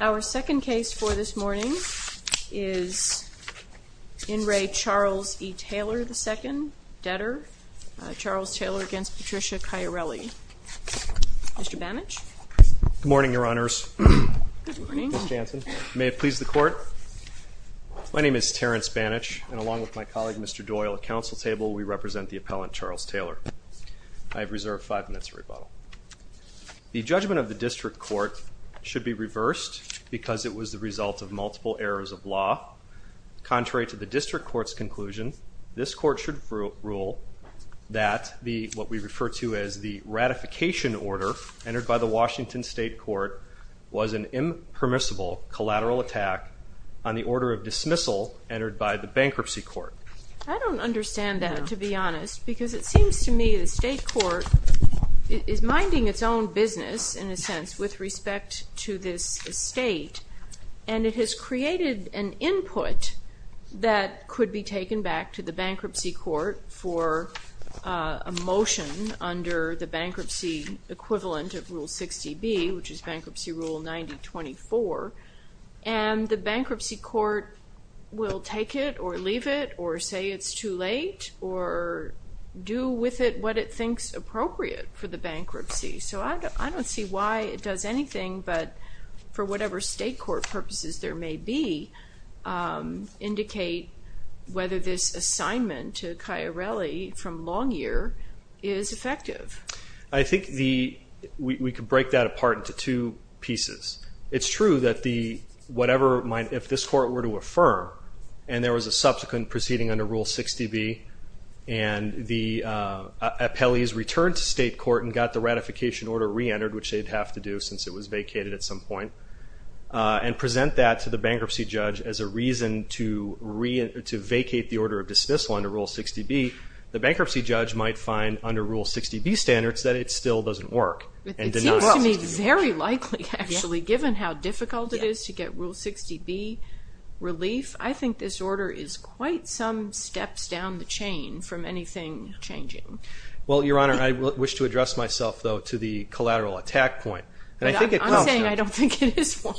Our second case for this morning is In Re. Charles E. Taylor II, debtor, Charles Taylor v. Patricia Caiarelli. Mr. Banich? Good morning, Your Honors. Good morning. Ms. Jansen. May it please the Court? My name is Terrence Banich, and along with my colleague, Mr. Doyle, at Council Table, we represent the appellant, Charles Taylor. I have reserved five minutes of rebuttal. The judgment of the District Court should be reversed because it was the result of multiple errors of law. Contrary to the District Court's conclusion, this Court should rule that what we refer to as the ratification order entered by the Washington State Court was an impermissible collateral attack on the order of dismissal entered by the Bankruptcy Court. I don't understand that, to be honest, because it seems to me the State Court is minding its own business, in a sense, with respect to this estate, and it has created an input that could be taken back to the Bankruptcy Court for a motion under the bankruptcy equivalent of Rule 60B, which is Bankruptcy Rule 9024, and the Bankruptcy Court will take it or leave it or say it's too late or do with it what it thinks appropriate for the bankruptcy. So I don't see why it does anything but, for whatever State Court purposes there may be, indicate whether this assignment to Chiarelli from Longyear is effective. I think we could break that apart into two pieces. It's true that if this Court were to affirm, and there was a subsequent proceeding under Rule 60B, and the appellees returned to State Court and got the ratification order re-entered, which they'd have to do since it was vacated at some point, and present that to the bankruptcy judge as a reason to vacate the order of dismissal under Rule 60B, the bankruptcy judge might find under Rule 60B standards that it still doesn't work. It seems to me very likely, actually, given how difficult it is to get Rule 60B relief. I think this order is quite some steps down the chain from anything changing. Well, Your Honor, I wish to address myself, though, to the collateral attack point. I'm saying I don't think it is one.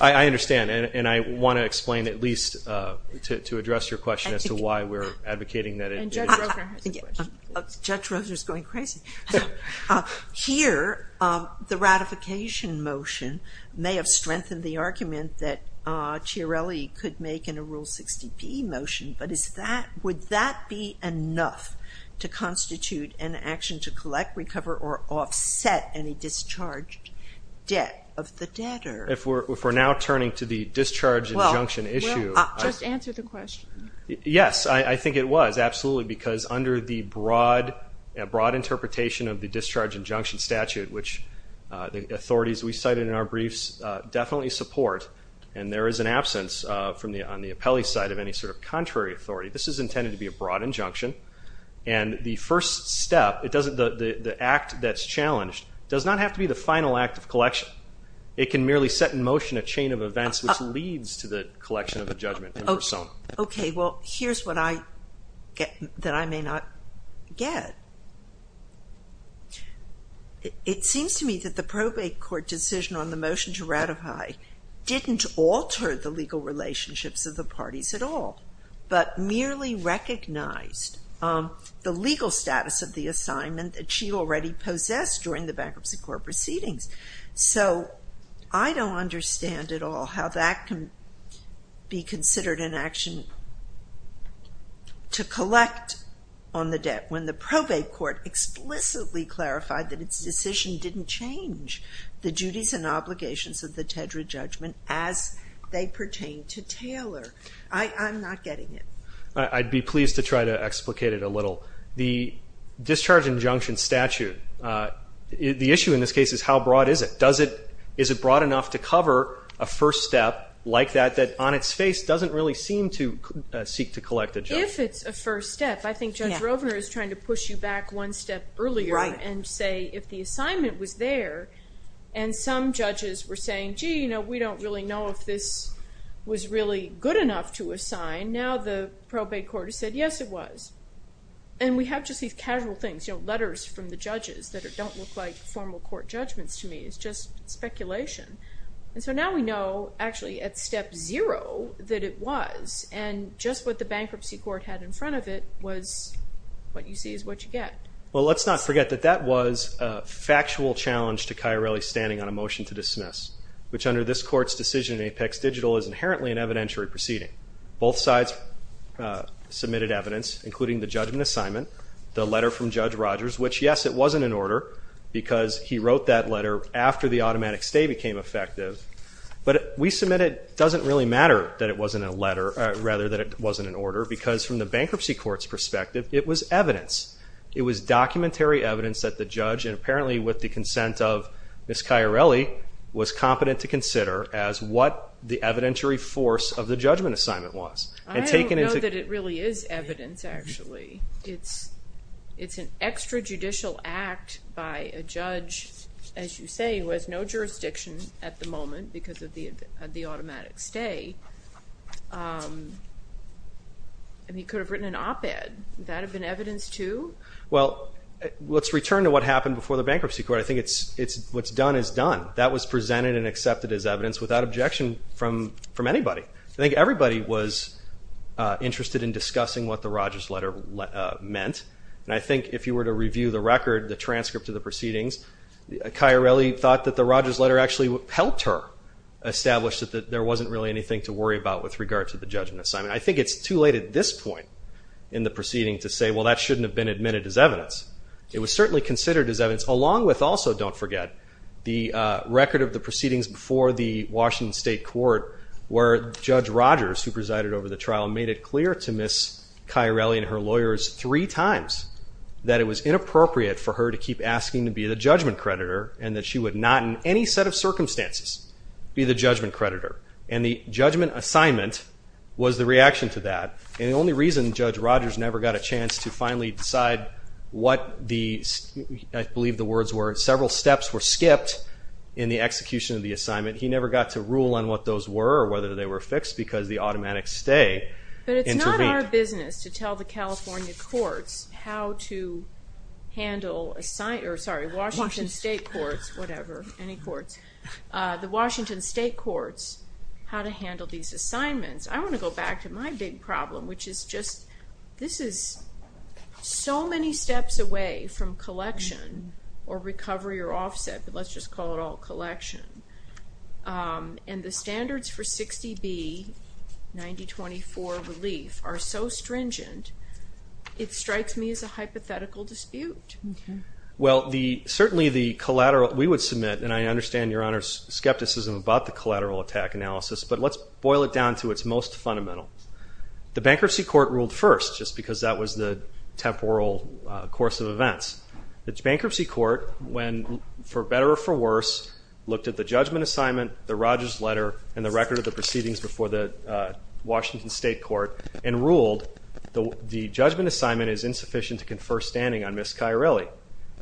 I understand, and I want to explain at least to address your question as to why we're advocating that it is. Judge Rosner has a question. Judge Rosner is going crazy. Here, the ratification motion may have strengthened the argument that Chiarelli could make in a Rule 60B motion, but would that be enough to constitute an action to collect, recover, or offset any discharged debt of the debtor? If we're now turning to the discharge injunction issue. Just answer the question. Yes, I think it was, absolutely, because under the broad interpretation of the discharge injunction statute, which the authorities we cited in our briefs definitely support, and there is an absence on the appellee side of any sort of contrary authority, this is intended to be a broad injunction, and the first step, the act that's challenged, does not have to be the final act of collection. It can merely set in motion a chain of events which leads to the collection of the judgment in persona. Okay, well, here's what I may not get. It seems to me that the probate court decision on the motion to ratify didn't alter the legal relationships of the parties at all, but merely recognized the legal status of the assignment that she already possessed during the bankruptcy court proceedings. So, I don't understand at all how that can be considered an action to collect on the debt when the probate court explicitly clarified that its decision didn't change the duties and obligations of the Tedra judgment as they pertain to Taylor. I'm not getting it. I'd be pleased to try to explicate it a little. The discharge injunction statute, the issue in this case is how broad is it? Is it broad enough to cover a first step like that, that on its face doesn't really seem to seek to collect a judgment? If it's a first step, I think Judge Rovner is trying to push you back one step earlier and say if the assignment was there and some judges were saying, gee, you know, we don't really know if this was really good enough to assign. Now the probate court has said, yes, it was. And we have just these casual things, you know, letters from the judges that don't look like formal court judgments to me. It's just speculation. And so now we know actually at step zero that it was. And just what the bankruptcy court had in front of it was what you see is what you get. Well, let's not forget that that was a factual challenge to Chiarelli's standing on a motion to dismiss, which under this court's decision in Apex Digital is inherently an evidentiary proceeding. Both sides submitted evidence, including the judgment assignment, the letter from Judge Rogers, which, yes, it wasn't an order because he wrote that letter after the automatic stay became effective. But we submitted it doesn't really matter that it wasn't a letter, rather that it wasn't an order, because from the bankruptcy court's perspective, it was evidence. It was documentary evidence that the judge, and apparently with the consent of Ms. Chiarelli, was competent to consider as what the evidentiary force of the judgment assignment was. I don't know that it really is evidence, actually. It's an extrajudicial act by a judge, as you say, who has no jurisdiction at the moment because of the automatic stay. And he could have written an op-ed. Would that have been evidence, too? Well, let's return to what happened before the bankruptcy court. I think what's done is done. That was presented and accepted as evidence without objection from anybody. I think everybody was interested in discussing what the Rogers letter meant. And I think if you were to review the record, the transcript of the proceedings, Chiarelli thought that the Rogers letter actually helped her establish that there wasn't really anything to worry about with regard to the judgment assignment. I think it's too late at this point in the proceeding to say, well, that shouldn't have been admitted as evidence. It was certainly considered as evidence, along with also, don't forget, the record of the proceedings before the Washington State Court where Judge Rogers, who presided over the trial, made it clear to Ms. Chiarelli and her lawyers three times that it was inappropriate for her to keep asking to be the judgment creditor and that she would not in any set of circumstances be the judgment creditor. And the judgment assignment was the reaction to that. And the only reason Judge Rogers never got a chance to finally decide what the, I believe the words were, several steps were skipped in the execution of the assignment, he never got to rule on what those were or whether they were fixed because the automatic stay intervened. But it's not our business to tell the California courts how to handle, sorry, Washington State courts, whatever, any courts, the Washington State courts how to handle these assignments. I want to go back to my big problem, which is just this is so many steps away from collection or recovery or offset, but let's just call it all collection. And the standards for 60B-9024 relief are so stringent, it strikes me as a hypothetical dispute. Well, certainly the collateral, we would submit, and I understand your Honor's skepticism about the collateral attack analysis, but let's boil it down to its most fundamental. The bankruptcy court ruled first just because that was the temporal course of events. The bankruptcy court, for better or for worse, looked at the judgment assignment, the Rogers letter, and the record of the proceedings before the Washington State court and ruled the judgment assignment is insufficient to confer standing on Ms. Chiarelli.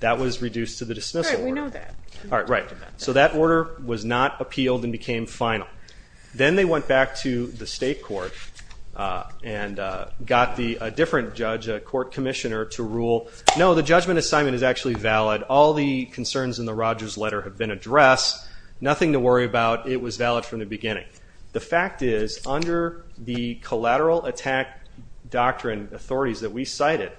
That was reduced to the dismissal order. All right, we know that. All right, right. So that order was not appealed and became final. Then they went back to the state court and got a different judge, a court commissioner, to rule, No, the judgment assignment is actually valid. All the concerns in the Rogers letter have been addressed. Nothing to worry about. It was valid from the beginning. The fact is, under the collateral attack doctrine authorities that we cited,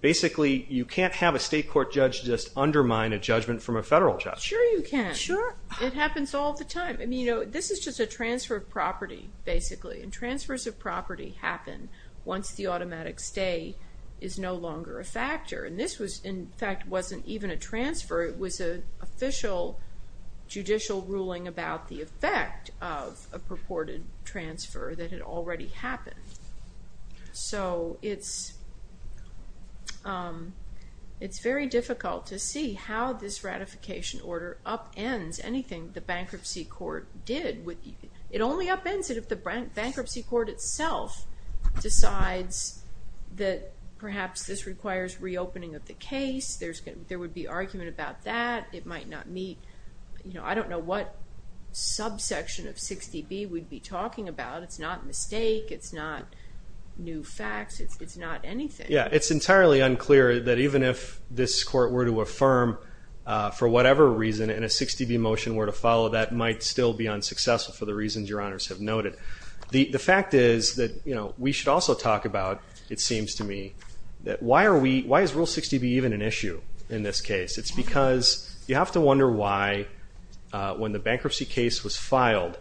basically you can't have a state court judge just undermine a judgment from a federal judge. Sure you can. Sure. It happens all the time. I mean, you know, this is just a transfer of property, basically, and transfers of property happen once the automatic stay is no longer a factor. And this was, in fact, wasn't even a transfer. It was an official judicial ruling about the effect of a purported transfer that had already happened. So it's very difficult to see how this ratification order upends anything the bankruptcy court did. It only upends it if the bankruptcy court itself decides that perhaps this requires reopening of the case. There would be argument about that. It might not meet, you know, I don't know what subsection of 60B we'd be talking about. It's not mistake. It's not new facts. It's not anything. Yeah, it's entirely unclear that even if this court were to affirm, for whatever reason, and a 60B motion were to follow, that might still be unsuccessful for the reasons your honors have noted. The fact is that, you know, we should also talk about, it seems to me, that why are we, why is Rule 60B even an issue in this case? It's because you have to wonder why, when the bankruptcy case was filed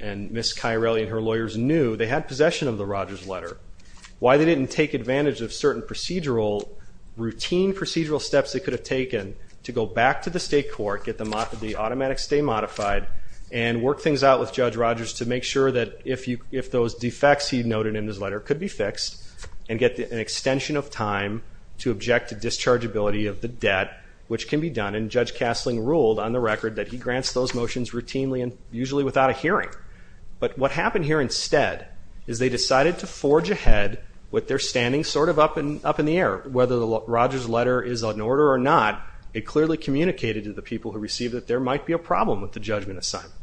and Ms. Chiarelli and her lawyers knew they had possession of the Rogers letter, why they didn't take advantage of certain procedural, routine procedural steps they could have taken to go back to the state court, get the automatic stay modified, and work things out with Judge Rogers to make sure that if those defects he noted in his letter could be fixed and get an extension of time to object to dischargeability of the debt, which can be done. And Judge Castling ruled on the record that he grants those motions routinely and usually without a hearing. But what happened here instead is they decided to forge ahead with their standing sort of up in the air, whether the Rogers letter is an order or not, it clearly communicated to the people who received it that there might be a problem with the judgment assignment.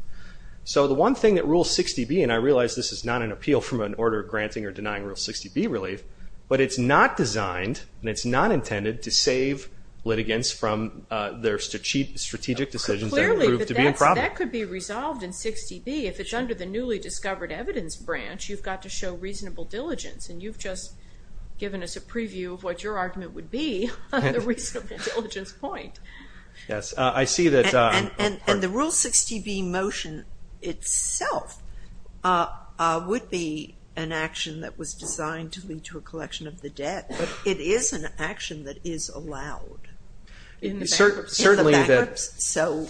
So the one thing that Rule 60B, and I realize this is not an appeal from an order granting or denying Rule 60B relief, but it's not designed and it's not intended to save litigants from their strategic decisions that prove to be a problem. Clearly, but that could be resolved in 60B. If it's under the newly discovered evidence branch, you've got to show reasonable diligence, and you've just given us a preview of what your argument would be on the reasonable diligence point. Yes. I see that. And the Rule 60B motion itself would be an action that was designed to lead to a collection of the debt, but it is an action that is allowed. In the backups. Certainly. So,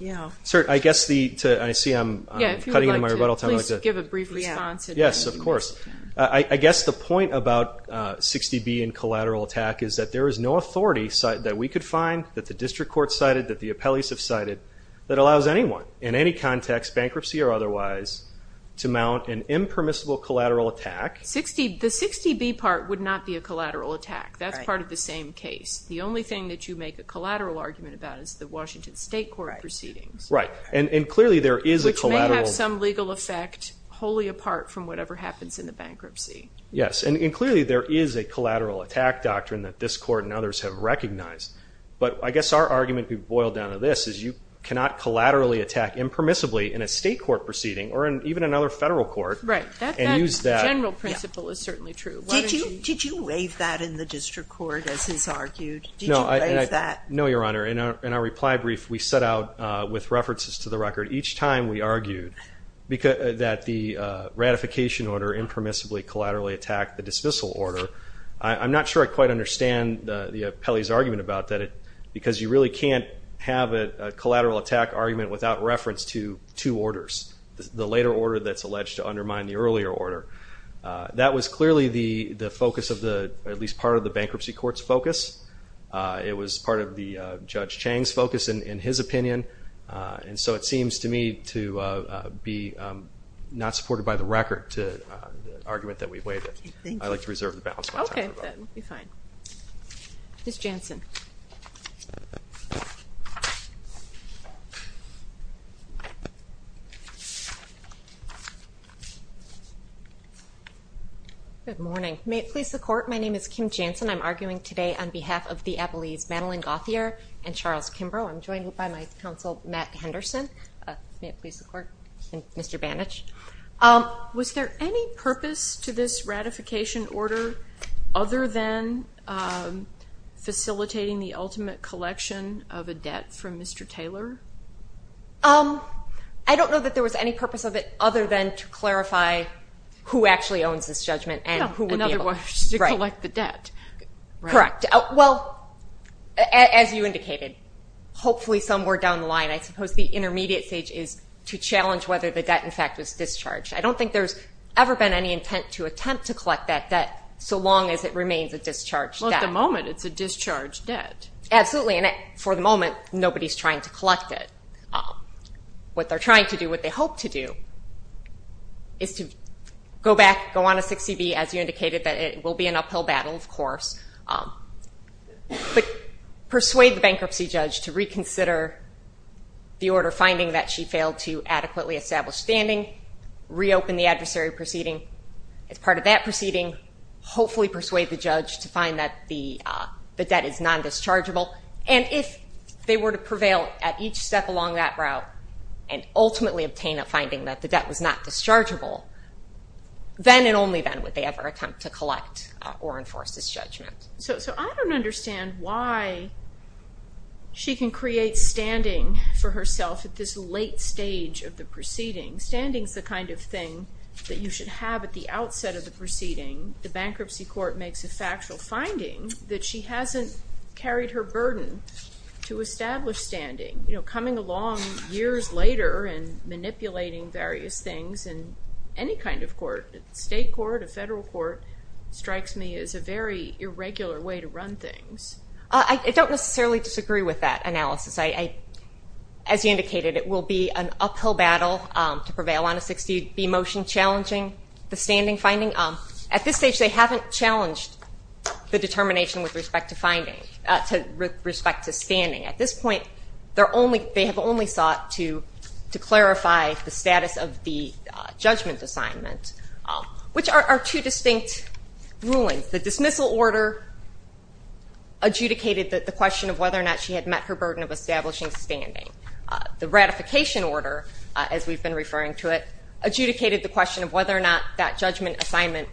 yeah. Sir, I guess the, I see I'm cutting into my rebuttal time. Yeah, if you would like to please give a brief response. Yes, of course. I guess the point about 60B and collateral attack is that there is no authority that we could find, that the district court cited, that the appellees have cited, that allows anyone in any context, bankruptcy or otherwise, to mount an impermissible collateral attack. The 60B part would not be a collateral attack. That's part of the same case. The only thing that you make a collateral argument about is the Washington State court proceedings. Right, and clearly there is a collateral. They have some legal effect wholly apart from whatever happens in the bankruptcy. Yes, and clearly there is a collateral attack doctrine that this court and others have recognized. But I guess our argument, to be boiled down to this, is you cannot collaterally attack impermissibly in a state court proceeding or in even another federal court. Right. And use that. That general principle is certainly true. Did you rave that in the district court as is argued? Did you rave that? No, Your Honor. In our reply brief we set out, with references to the record, each time we argued that the ratification order impermissibly collaterally attacked the dismissal order. I'm not sure I quite understand the appellee's argument about that because you really can't have a collateral attack argument without reference to two orders, the later order that's alleged to undermine the earlier order. That was clearly the focus of the, at least part of the bankruptcy court's focus. It was part of Judge Chang's focus, in his opinion. And so it seems to me to be not supported by the record, the argument that we weighed in. Thank you. I'd like to reserve the balance of my time. Okay, then. We'll be fine. Ms. Jansen. Good morning. May it please the Court, my name is Kim Jansen. I'm arguing today on behalf of the appellees Madeline Gauthier and Charles Kimbrough. I'm joined by my counsel, Matt Henderson. May it please the Court, and Mr. Bannich. Was there any purpose to this ratification order other than facilitating the ultimate collection of a debt from Mr. Taylor? I don't know that there was any purpose of it other than to clarify who actually owns this judgment and who would be able to. Correct. Well, as you indicated, hopefully somewhere down the line, I suppose the intermediate stage is to challenge whether the debt, in fact, is discharged. I don't think there's ever been any intent to attempt to collect that debt so long as it remains a discharged debt. Well, at the moment, it's a discharged debt. Absolutely, and for the moment, nobody's trying to collect it. What they're trying to do, what they hope to do, is to go back, go on a 6CB, as you indicated, that it will be an uphill battle, of course, but persuade the bankruptcy judge to reconsider the order finding that she failed to adequately establish standing, reopen the adversary proceeding as part of that proceeding, hopefully persuade the judge to find that the debt is non-dischargeable, and if they were to prevail at each step along that route and ultimately obtain a finding that the debt was not dischargeable, then and only then would they ever attempt to collect or enforce this judgment. So I don't understand why she can create standing for herself at this late stage of the proceeding. Standing's the kind of thing that you should have at the outset of the proceeding. The bankruptcy court makes a factual finding that she hasn't carried her burden to establish standing. You know, coming along years later and manipulating various things in any kind of court, state court, a federal court, strikes me as a very irregular way to run things. I don't necessarily disagree with that analysis. As you indicated, it will be an uphill battle to prevail on a 6CB motion challenging the standing finding. At this stage, they haven't challenged the determination with respect to standing. At this point, they have only sought to clarify the status of the judgment assignment, which are two distinct rulings. The dismissal order adjudicated the question of whether or not she had met her burden of establishing standing. The ratification order, as we've been referring to it, adjudicated the question of whether or not that judgment assignment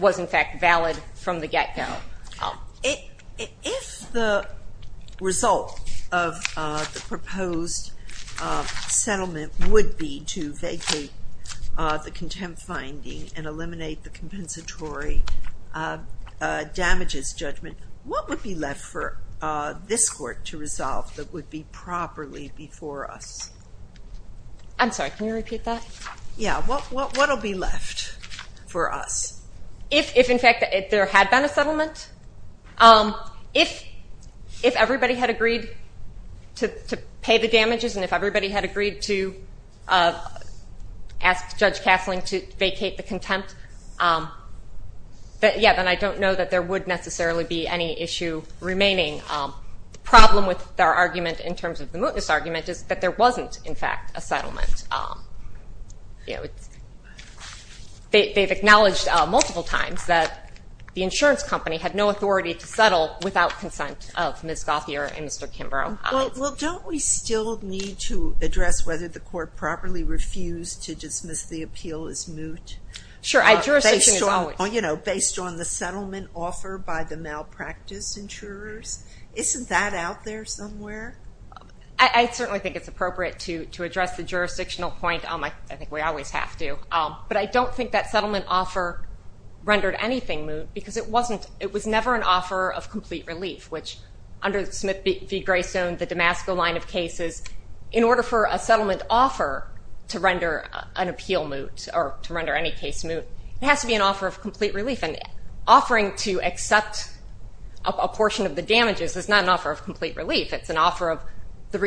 was, in fact, valid from the get-go. If the result of the proposed settlement would be to vacate the contempt finding and eliminate the compensatory damages judgment, what would be left for this court to resolve that would be properly before us? I'm sorry, can you repeat that? Yeah. What will be left for us? If, in fact, there had been a settlement, if everybody had agreed to pay the damages and if everybody had agreed to ask Judge Kasling to vacate the contempt, then I don't know that there would necessarily be any issue remaining. The problem with their argument in terms of the mootness argument is that there wasn't, in fact, a settlement. They've acknowledged multiple times that the insurance company had no authority to settle without consent of Ms. Gauthier and Mr. Kimbrough. Well, don't we still need to address whether the court properly refused to dismiss the appeal as moot? Sure. Based on the settlement offer by the malpractice insurers? Isn't that out there somewhere? I certainly think it's appropriate to address the jurisdictional point. I think we always have to. But I don't think that settlement offer rendered anything moot because it was never an offer of complete relief, because in order for a settlement offer to render an appeal moot or to render any case moot, it has to be an offer of complete relief. And offering to accept a portion of the damages is not an offer of complete relief. It's an offer of the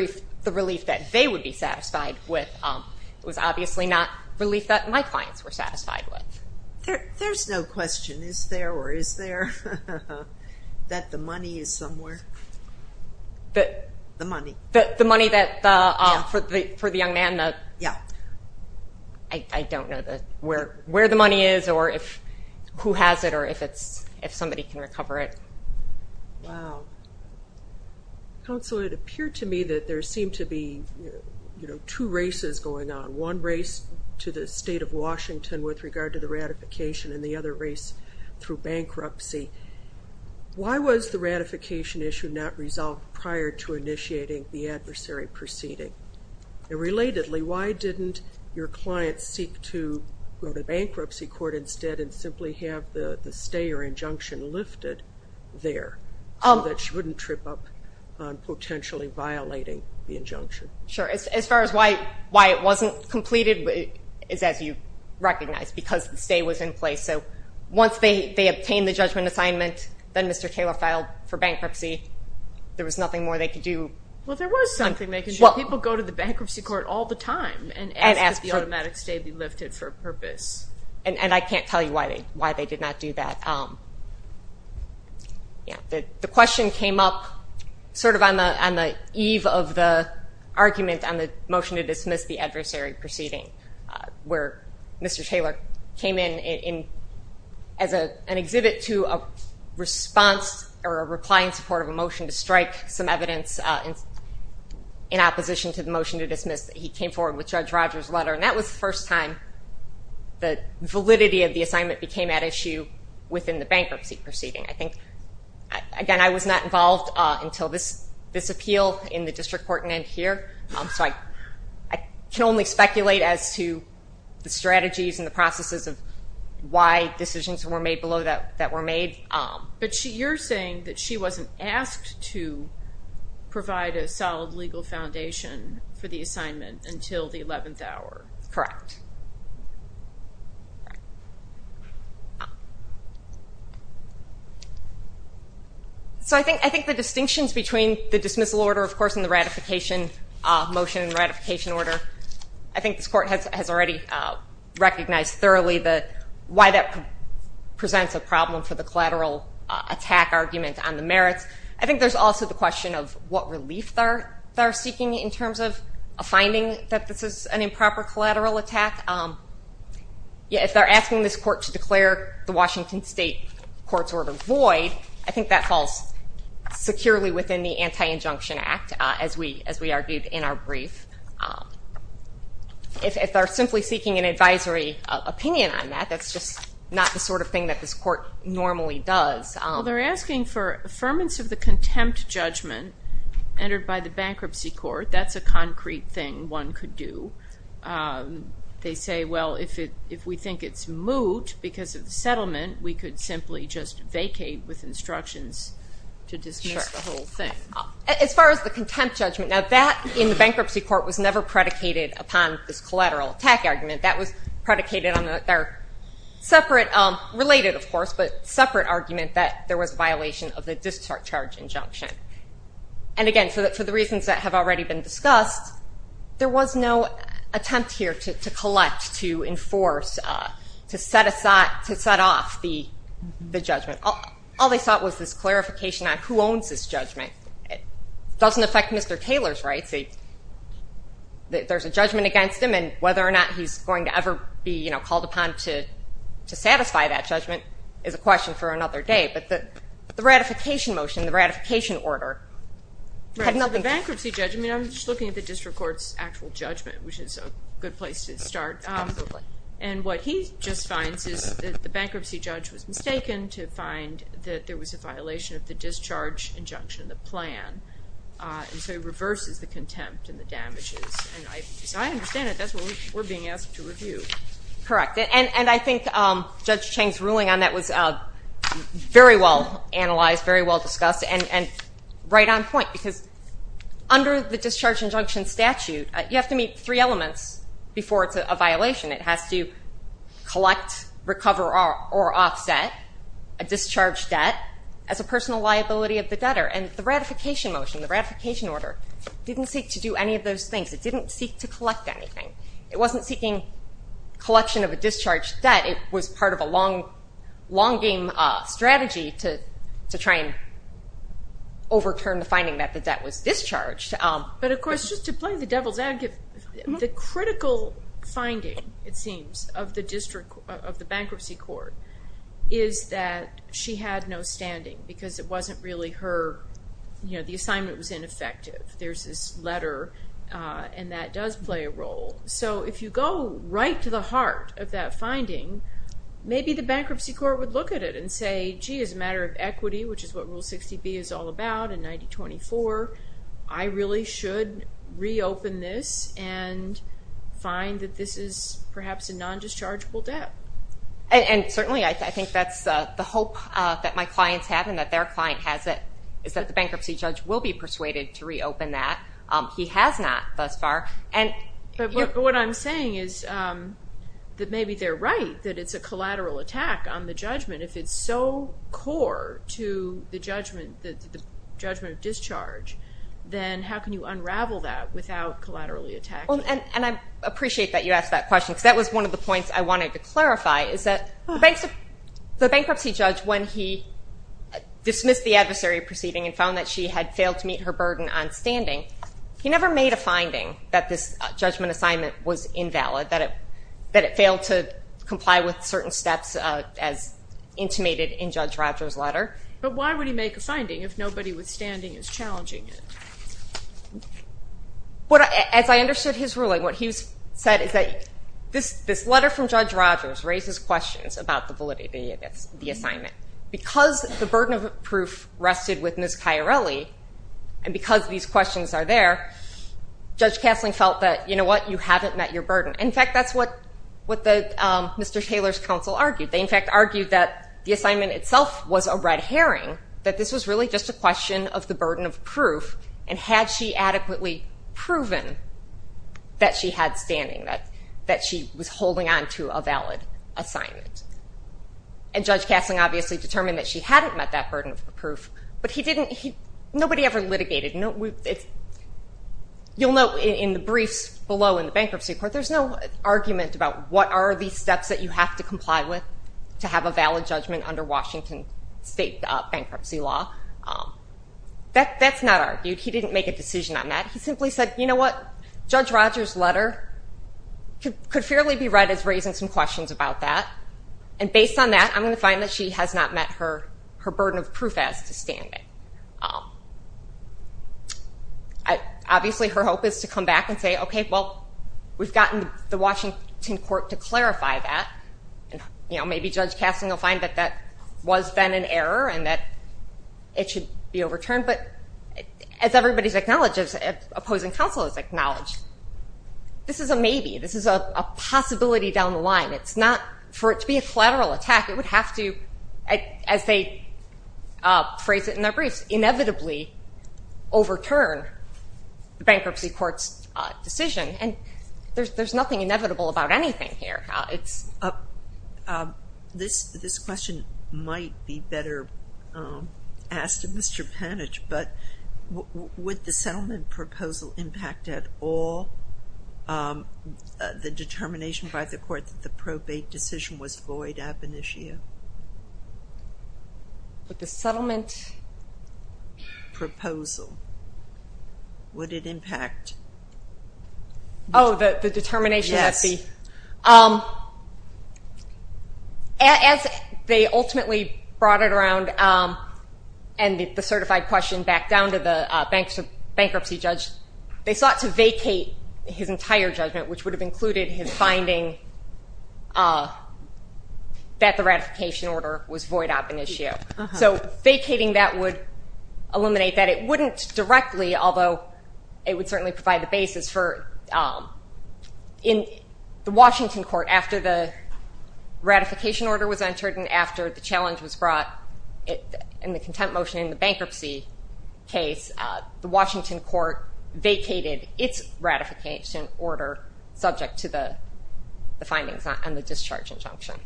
relief that they would be satisfied with. It was obviously not relief that my clients were satisfied with. There's no question, is there or is there, that the money is somewhere? The money? The money for the young man? Yeah. I don't know where the money is or who has it or if somebody can recover it. Wow. Counsel, it appeared to me that there seemed to be two races going on, one race to the state of Washington with regard to the ratification and the other race through bankruptcy. Why was the ratification issue not resolved prior to initiating the adversary proceeding? And relatedly, why didn't your client seek to go to bankruptcy court instead and simply have the stay or injunction lifted there so that she wouldn't trip up on potentially violating the injunction? Sure. As far as why it wasn't completed is as you recognize, because the stay was in place. So once they obtained the judgment assignment, then Mr. Taylor filed for bankruptcy. There was nothing more they could do. Well, there was something they could do. People go to the bankruptcy court all the time and ask that the automatic stay be lifted for a purpose. And I can't tell you why they did not do that. The question came up sort of on the eve of the argument on the motion to dismiss the adversary proceeding where Mr. Taylor came in as an exhibit to a response or a reply in support of a motion to strike some evidence in opposition to the motion to dismiss that he came forward with Judge Rogers' letter. And that was the first time the validity of the assignment became at issue within the bankruptcy proceeding. I think, again, I was not involved until this appeal in the district court and then here. So I can only speculate as to the strategies and the processes of why decisions were made below that were made. But you're saying that she wasn't asked to provide a solid legal foundation for the assignment until the 11th hour. Correct. So I think the distinctions between the dismissal order, of course, and the ratification motion and ratification order, I think this court has already recognized thoroughly why that presents a problem for the collateral attack argument on the merits. I think there's also the question of what relief they're seeking in terms of a finding that this is an improper collateral attack. If they're asking this court to declare the Washington State court's order void, I think that falls securely within the Anti-Injunction Act, as we argued in our brief. If they're simply seeking an advisory opinion on that, that's just not the sort of thing that this court normally does. Well, they're asking for affirmance of the contempt judgment entered by the bankruptcy court. That's a concrete thing one could do. They say, well, if we think it's moot because of the settlement, we could simply just vacate with instructions to dismiss the whole thing. As far as the contempt judgment, now that in the bankruptcy court was never predicated upon this collateral attack argument. That was predicated on their separate, related, of course, but separate argument that there was a violation of the discharge charge injunction. Again, for the reasons that have already been discussed, there was no attempt here to collect, to enforce, to set off the judgment. All they sought was this clarification on who owns this judgment. It doesn't affect Mr. Taylor's rights. There's a judgment against him, and whether or not he's going to ever be called upon to satisfy that judgment is a question for another day. But the ratification motion, the ratification order had nothing to do with it. Right, so the bankruptcy judge, I mean, I'm just looking at the district court's actual judgment, which is a good place to start. Absolutely. And what he just finds is that the bankruptcy judge was mistaken to find that there was a violation of the discharge injunction, the plan, and so he reverses the contempt and the damages. And as I understand it, that's what we're being asked to review. Correct. And I think Judge Cheng's ruling on that was very well analyzed, very well discussed, and right on point because under the discharge injunction statute, you have to meet three elements before it's a violation. It has to collect, recover, or offset a discharge debt as a personal liability of the debtor. And the ratification motion, the ratification order, didn't seek to do any of those things. It didn't seek to collect anything. It wasn't seeking collection of a discharge debt. It was part of a long game strategy to try and overturn the finding that the debt was discharged. But, of course, just to play the devil's advocate, the critical finding, it seems, of the bankruptcy court is that she had no standing because it wasn't really her, you know, the assignment was ineffective. There's this letter, and that does play a role. So if you go right to the heart of that finding, maybe the bankruptcy court would look at it and say, gee, as a matter of equity, which is what Rule 60B is all about in 9024, I really should reopen this and find that this is perhaps a non-dischargeable debt. And certainly I think that's the hope that my clients have and that their client has it, is that the bankruptcy judge will be persuaded to reopen that. He has not thus far. But what I'm saying is that maybe they're right that it's a collateral attack on the judgment. If it's so core to the judgment of discharge, then how can you unravel that without collaterally attacking it? And I appreciate that you asked that question because that was one of the points I wanted to clarify is that the bankruptcy judge, when he dismissed the adversary proceeding and found that she had failed to meet her burden on standing, he never made a finding that this judgment assignment was invalid, that it failed to comply with certain steps as intimated in Judge Rogers' letter. But why would he make a finding if nobody with standing is challenging it? As I understood his ruling, what he said is that this letter from Judge Rogers raises questions about the validity of the assignment. Because the burden of proof rested with Ms. Chiarelli and because these questions are there, Judge Castling felt that, you know what, you haven't met your burden. In fact, that's what Mr. Taylor's counsel argued. They, in fact, argued that the assignment itself was a red herring, that this was really just a question of the burden of proof, and had she adequately proven that she had standing, that she was holding on to a valid assignment. And Judge Castling obviously determined that she hadn't met that burden of proof, but nobody ever litigated. You'll note in the briefs below in the bankruptcy court, there's no argument about what are these steps that you have to comply with to have a valid judgment under Washington state bankruptcy law. That's not argued. He didn't make a decision on that. He simply said, you know what, Judge Rogers' letter could fairly be read as raising some questions about that. And based on that, I'm going to find that she has not met her burden of proof as to standing. Obviously, her hope is to come back and say, okay, well, we've gotten the Washington court to clarify that. Maybe Judge Castling will find that that was then an error and that it should be overturned. But as everybody's acknowledged, as opposing counsel has acknowledged, this is a maybe. This is a possibility down the line. For it to be a collateral attack, it would have to, as they phrase it in their briefs, inevitably overturn the bankruptcy court's decision. And there's nothing inevitable about anything here. This question might be better asked of Mr. Panitch, but would the settlement proposal impact at all the determination by the court that the probate decision was void ab initio? The settlement? Proposal. Would it impact? Oh, the determination? Yes. As they ultimately brought it around and the certified question back down to the bankruptcy judge, they sought to vacate his entire judgment, which would have included his finding that the ratification order was void ab initio. So vacating that would eliminate that. It wouldn't directly, although it would certainly provide the basis for in the Washington court, after the ratification order was entered and after the challenge was brought in the contempt motion in the bankruptcy case, the Washington court vacated its ratification order subject to the findings on the discharge injunction.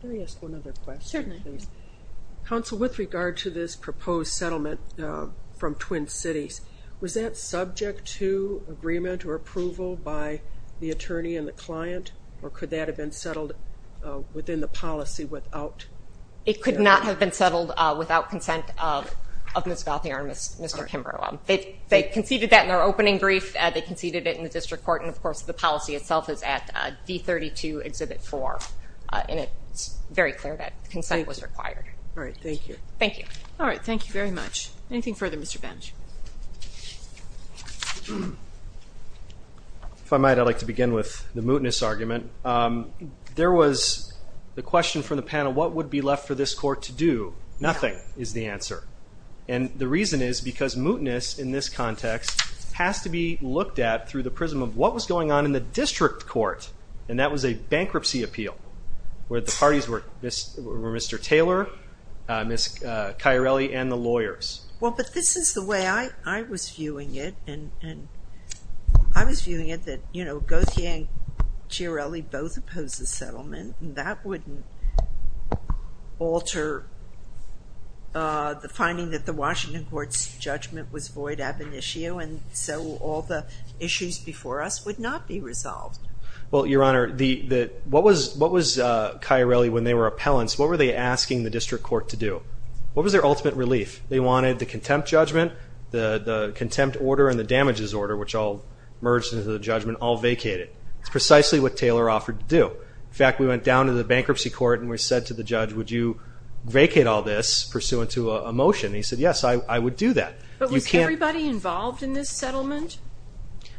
Can I ask one other question? Certainly. Counsel, with regard to this proposed settlement from Twin Cities, was that subject to agreement or approval by the attorney and the client, or could that have been settled within the policy without? It could not have been settled without consent of Ms. Gauthier and Mr. Kimbrough. They conceded that in their opening brief. They conceded it in the district court, and, of course, the policy itself is at D32 Exhibit 4, and it's very clear that consent was required. All right. Thank you. Thank you. All right. Thank you very much. Anything further, Mr. Bench? If I might, I'd like to begin with the mootness argument. There was the question from the panel, what would be left for this court to do? Nothing is the answer. And the reason is because mootness in this context has to be looked at through the prism of what was going on in the district court, and that was a bankruptcy appeal where the parties were Mr. Taylor, Ms. Chiarelli, and the lawyers. Well, but this is the way I was viewing it, and I was viewing it that, you know, Gauthier and Chiarelli both opposed the settlement, and that wouldn't alter the finding that the Washington court's judgment was void ab initio, and so all the issues before us would not be resolved. Well, Your Honor, what was Chiarelli, when they were appellants, what were they asking the district court to do? What was their ultimate relief? They wanted the contempt judgment, the contempt order, and the damages order, which all merged into the judgment, all vacated. It's precisely what Taylor offered to do. In fact, we went down to the bankruptcy court and we said to the judge, would you vacate all this pursuant to a motion? And he said, yes, I would do that. But was everybody involved in this settlement?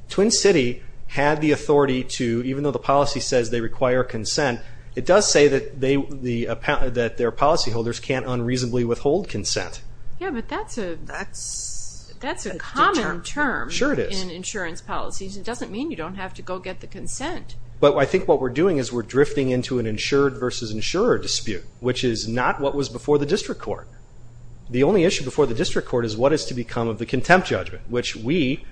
Twin City had the authority to, even though the policy says they require consent, it does say that their policyholders can't unreasonably withhold consent. Yeah, but that's a common term in insurance policies. It doesn't mean you don't have to go get the consent. But I think what we're doing is we're drifting into an insured versus insurer dispute, which is not what was before the district court. The only issue before the district court is what is to become of the contempt judgment, which we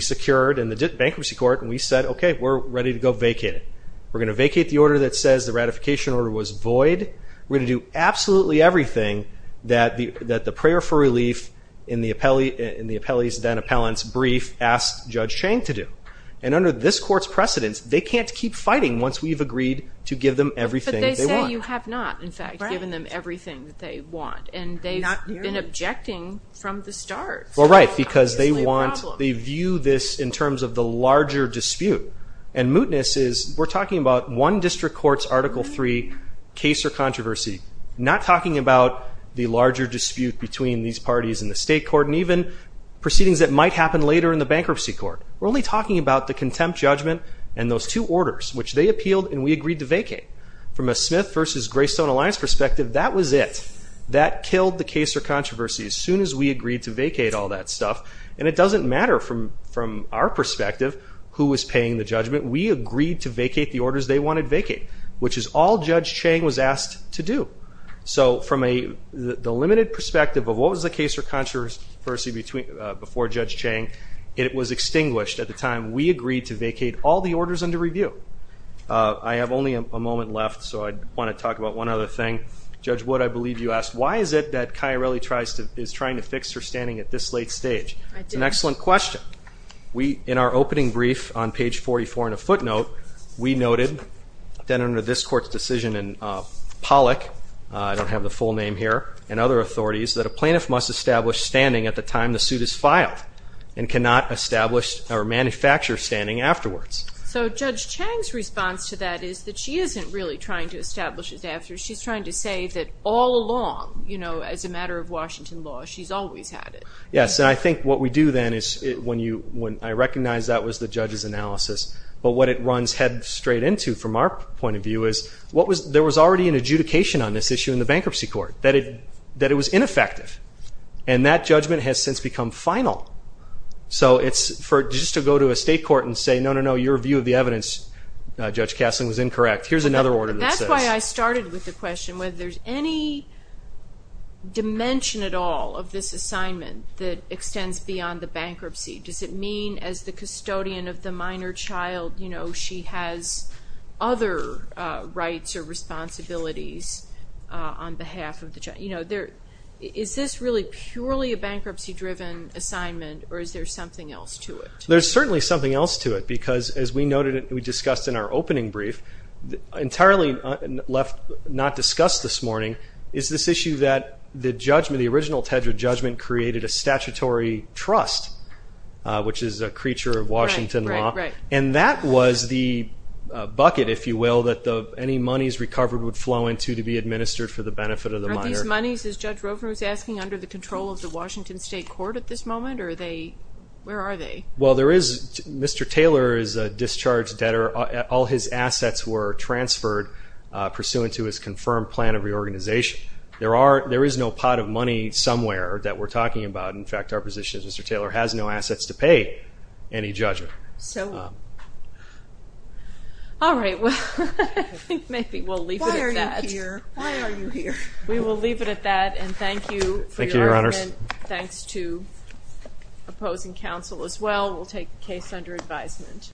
secured in the bankruptcy court, and we said, okay, we're ready to go vacate it. We're going to vacate the order that says the ratification order was void. We're going to do absolutely everything that the prayer for relief in the appellee's then appellant's brief asked Judge Chang to do. And under this court's precedence, they can't keep fighting once we've agreed to give them everything they want. But they say you have not, in fact, given them everything that they want. And they've been objecting from the start. Well, right, because they view this in terms of the larger dispute. And mootness is we're talking about one district court's Article III case or controversy, not talking about the larger dispute between these parties in the state court and even proceedings that might happen later in the bankruptcy court. We're only talking about the contempt judgment and those two orders, which they appealed and we agreed to vacate. From a Smith v. Greystone Alliance perspective, that was it. That killed the case or controversy as soon as we agreed to vacate all that stuff. And it doesn't matter from our perspective who was paying the judgment. We agreed to vacate the orders they wanted vacated, which is all Judge Chang was asked to do. So from the limited perspective of what was the case or controversy before Judge Chang, it was extinguished at the time we agreed to vacate all the orders under review. I have only a moment left, so I want to talk about one other thing. Judge Wood, I believe you asked, why is it that Chiarelli is trying to fix her standing at this late stage? That's an excellent question. In our opening brief on page 44 in a footnote, we noted that under this court's decision in Pollock, I don't have the full name here, and other authorities, that a plaintiff must establish standing at the time the suit is filed and cannot establish or manufacture standing afterwards. So Judge Chang's response to that is that she isn't really trying to establish it afterwards. She's trying to say that all along, you know, as a matter of Washington law, she's always had it. Yes, and I think what we do then is when you – I recognize that was the judge's analysis, but what it runs head straight into from our point of view is what was – there was already an adjudication on this issue in the bankruptcy court that it was ineffective, and that judgment has since become final. So it's for – just to go to a state court and say, no, no, no, your view of the evidence, Judge Castling, was incorrect. Here's another order that says – that extends beyond the bankruptcy. Does it mean as the custodian of the minor child, you know, she has other rights or responsibilities on behalf of the child? You know, there – is this really purely a bankruptcy-driven assignment, or is there something else to it? There's certainly something else to it because, as we noted and we discussed in our opening brief, entirely left not discussed this morning is this issue that the judgment, the original Tedra judgment created a statutory trust, which is a creature of Washington law. Right, right, right. And that was the bucket, if you will, that any monies recovered would flow into to be administered for the benefit of the minor. Are these monies, as Judge Rovner was asking, under the control of the Washington State Court at this moment, or are they – where are they? Well, there is – Mr. Taylor is a discharged debtor. All his assets were transferred pursuant to his confirmed plan of reorganization. There are – there is no pot of money somewhere that we're talking about. In fact, our position is Mr. Taylor has no assets to pay any judgment. So – all right, well, I think maybe we'll leave it at that. Why are you here? Why are you here? We will leave it at that, and thank you for your argument. Thank you, Your Honors. Thanks to opposing counsel as well. We'll take the case under advisement.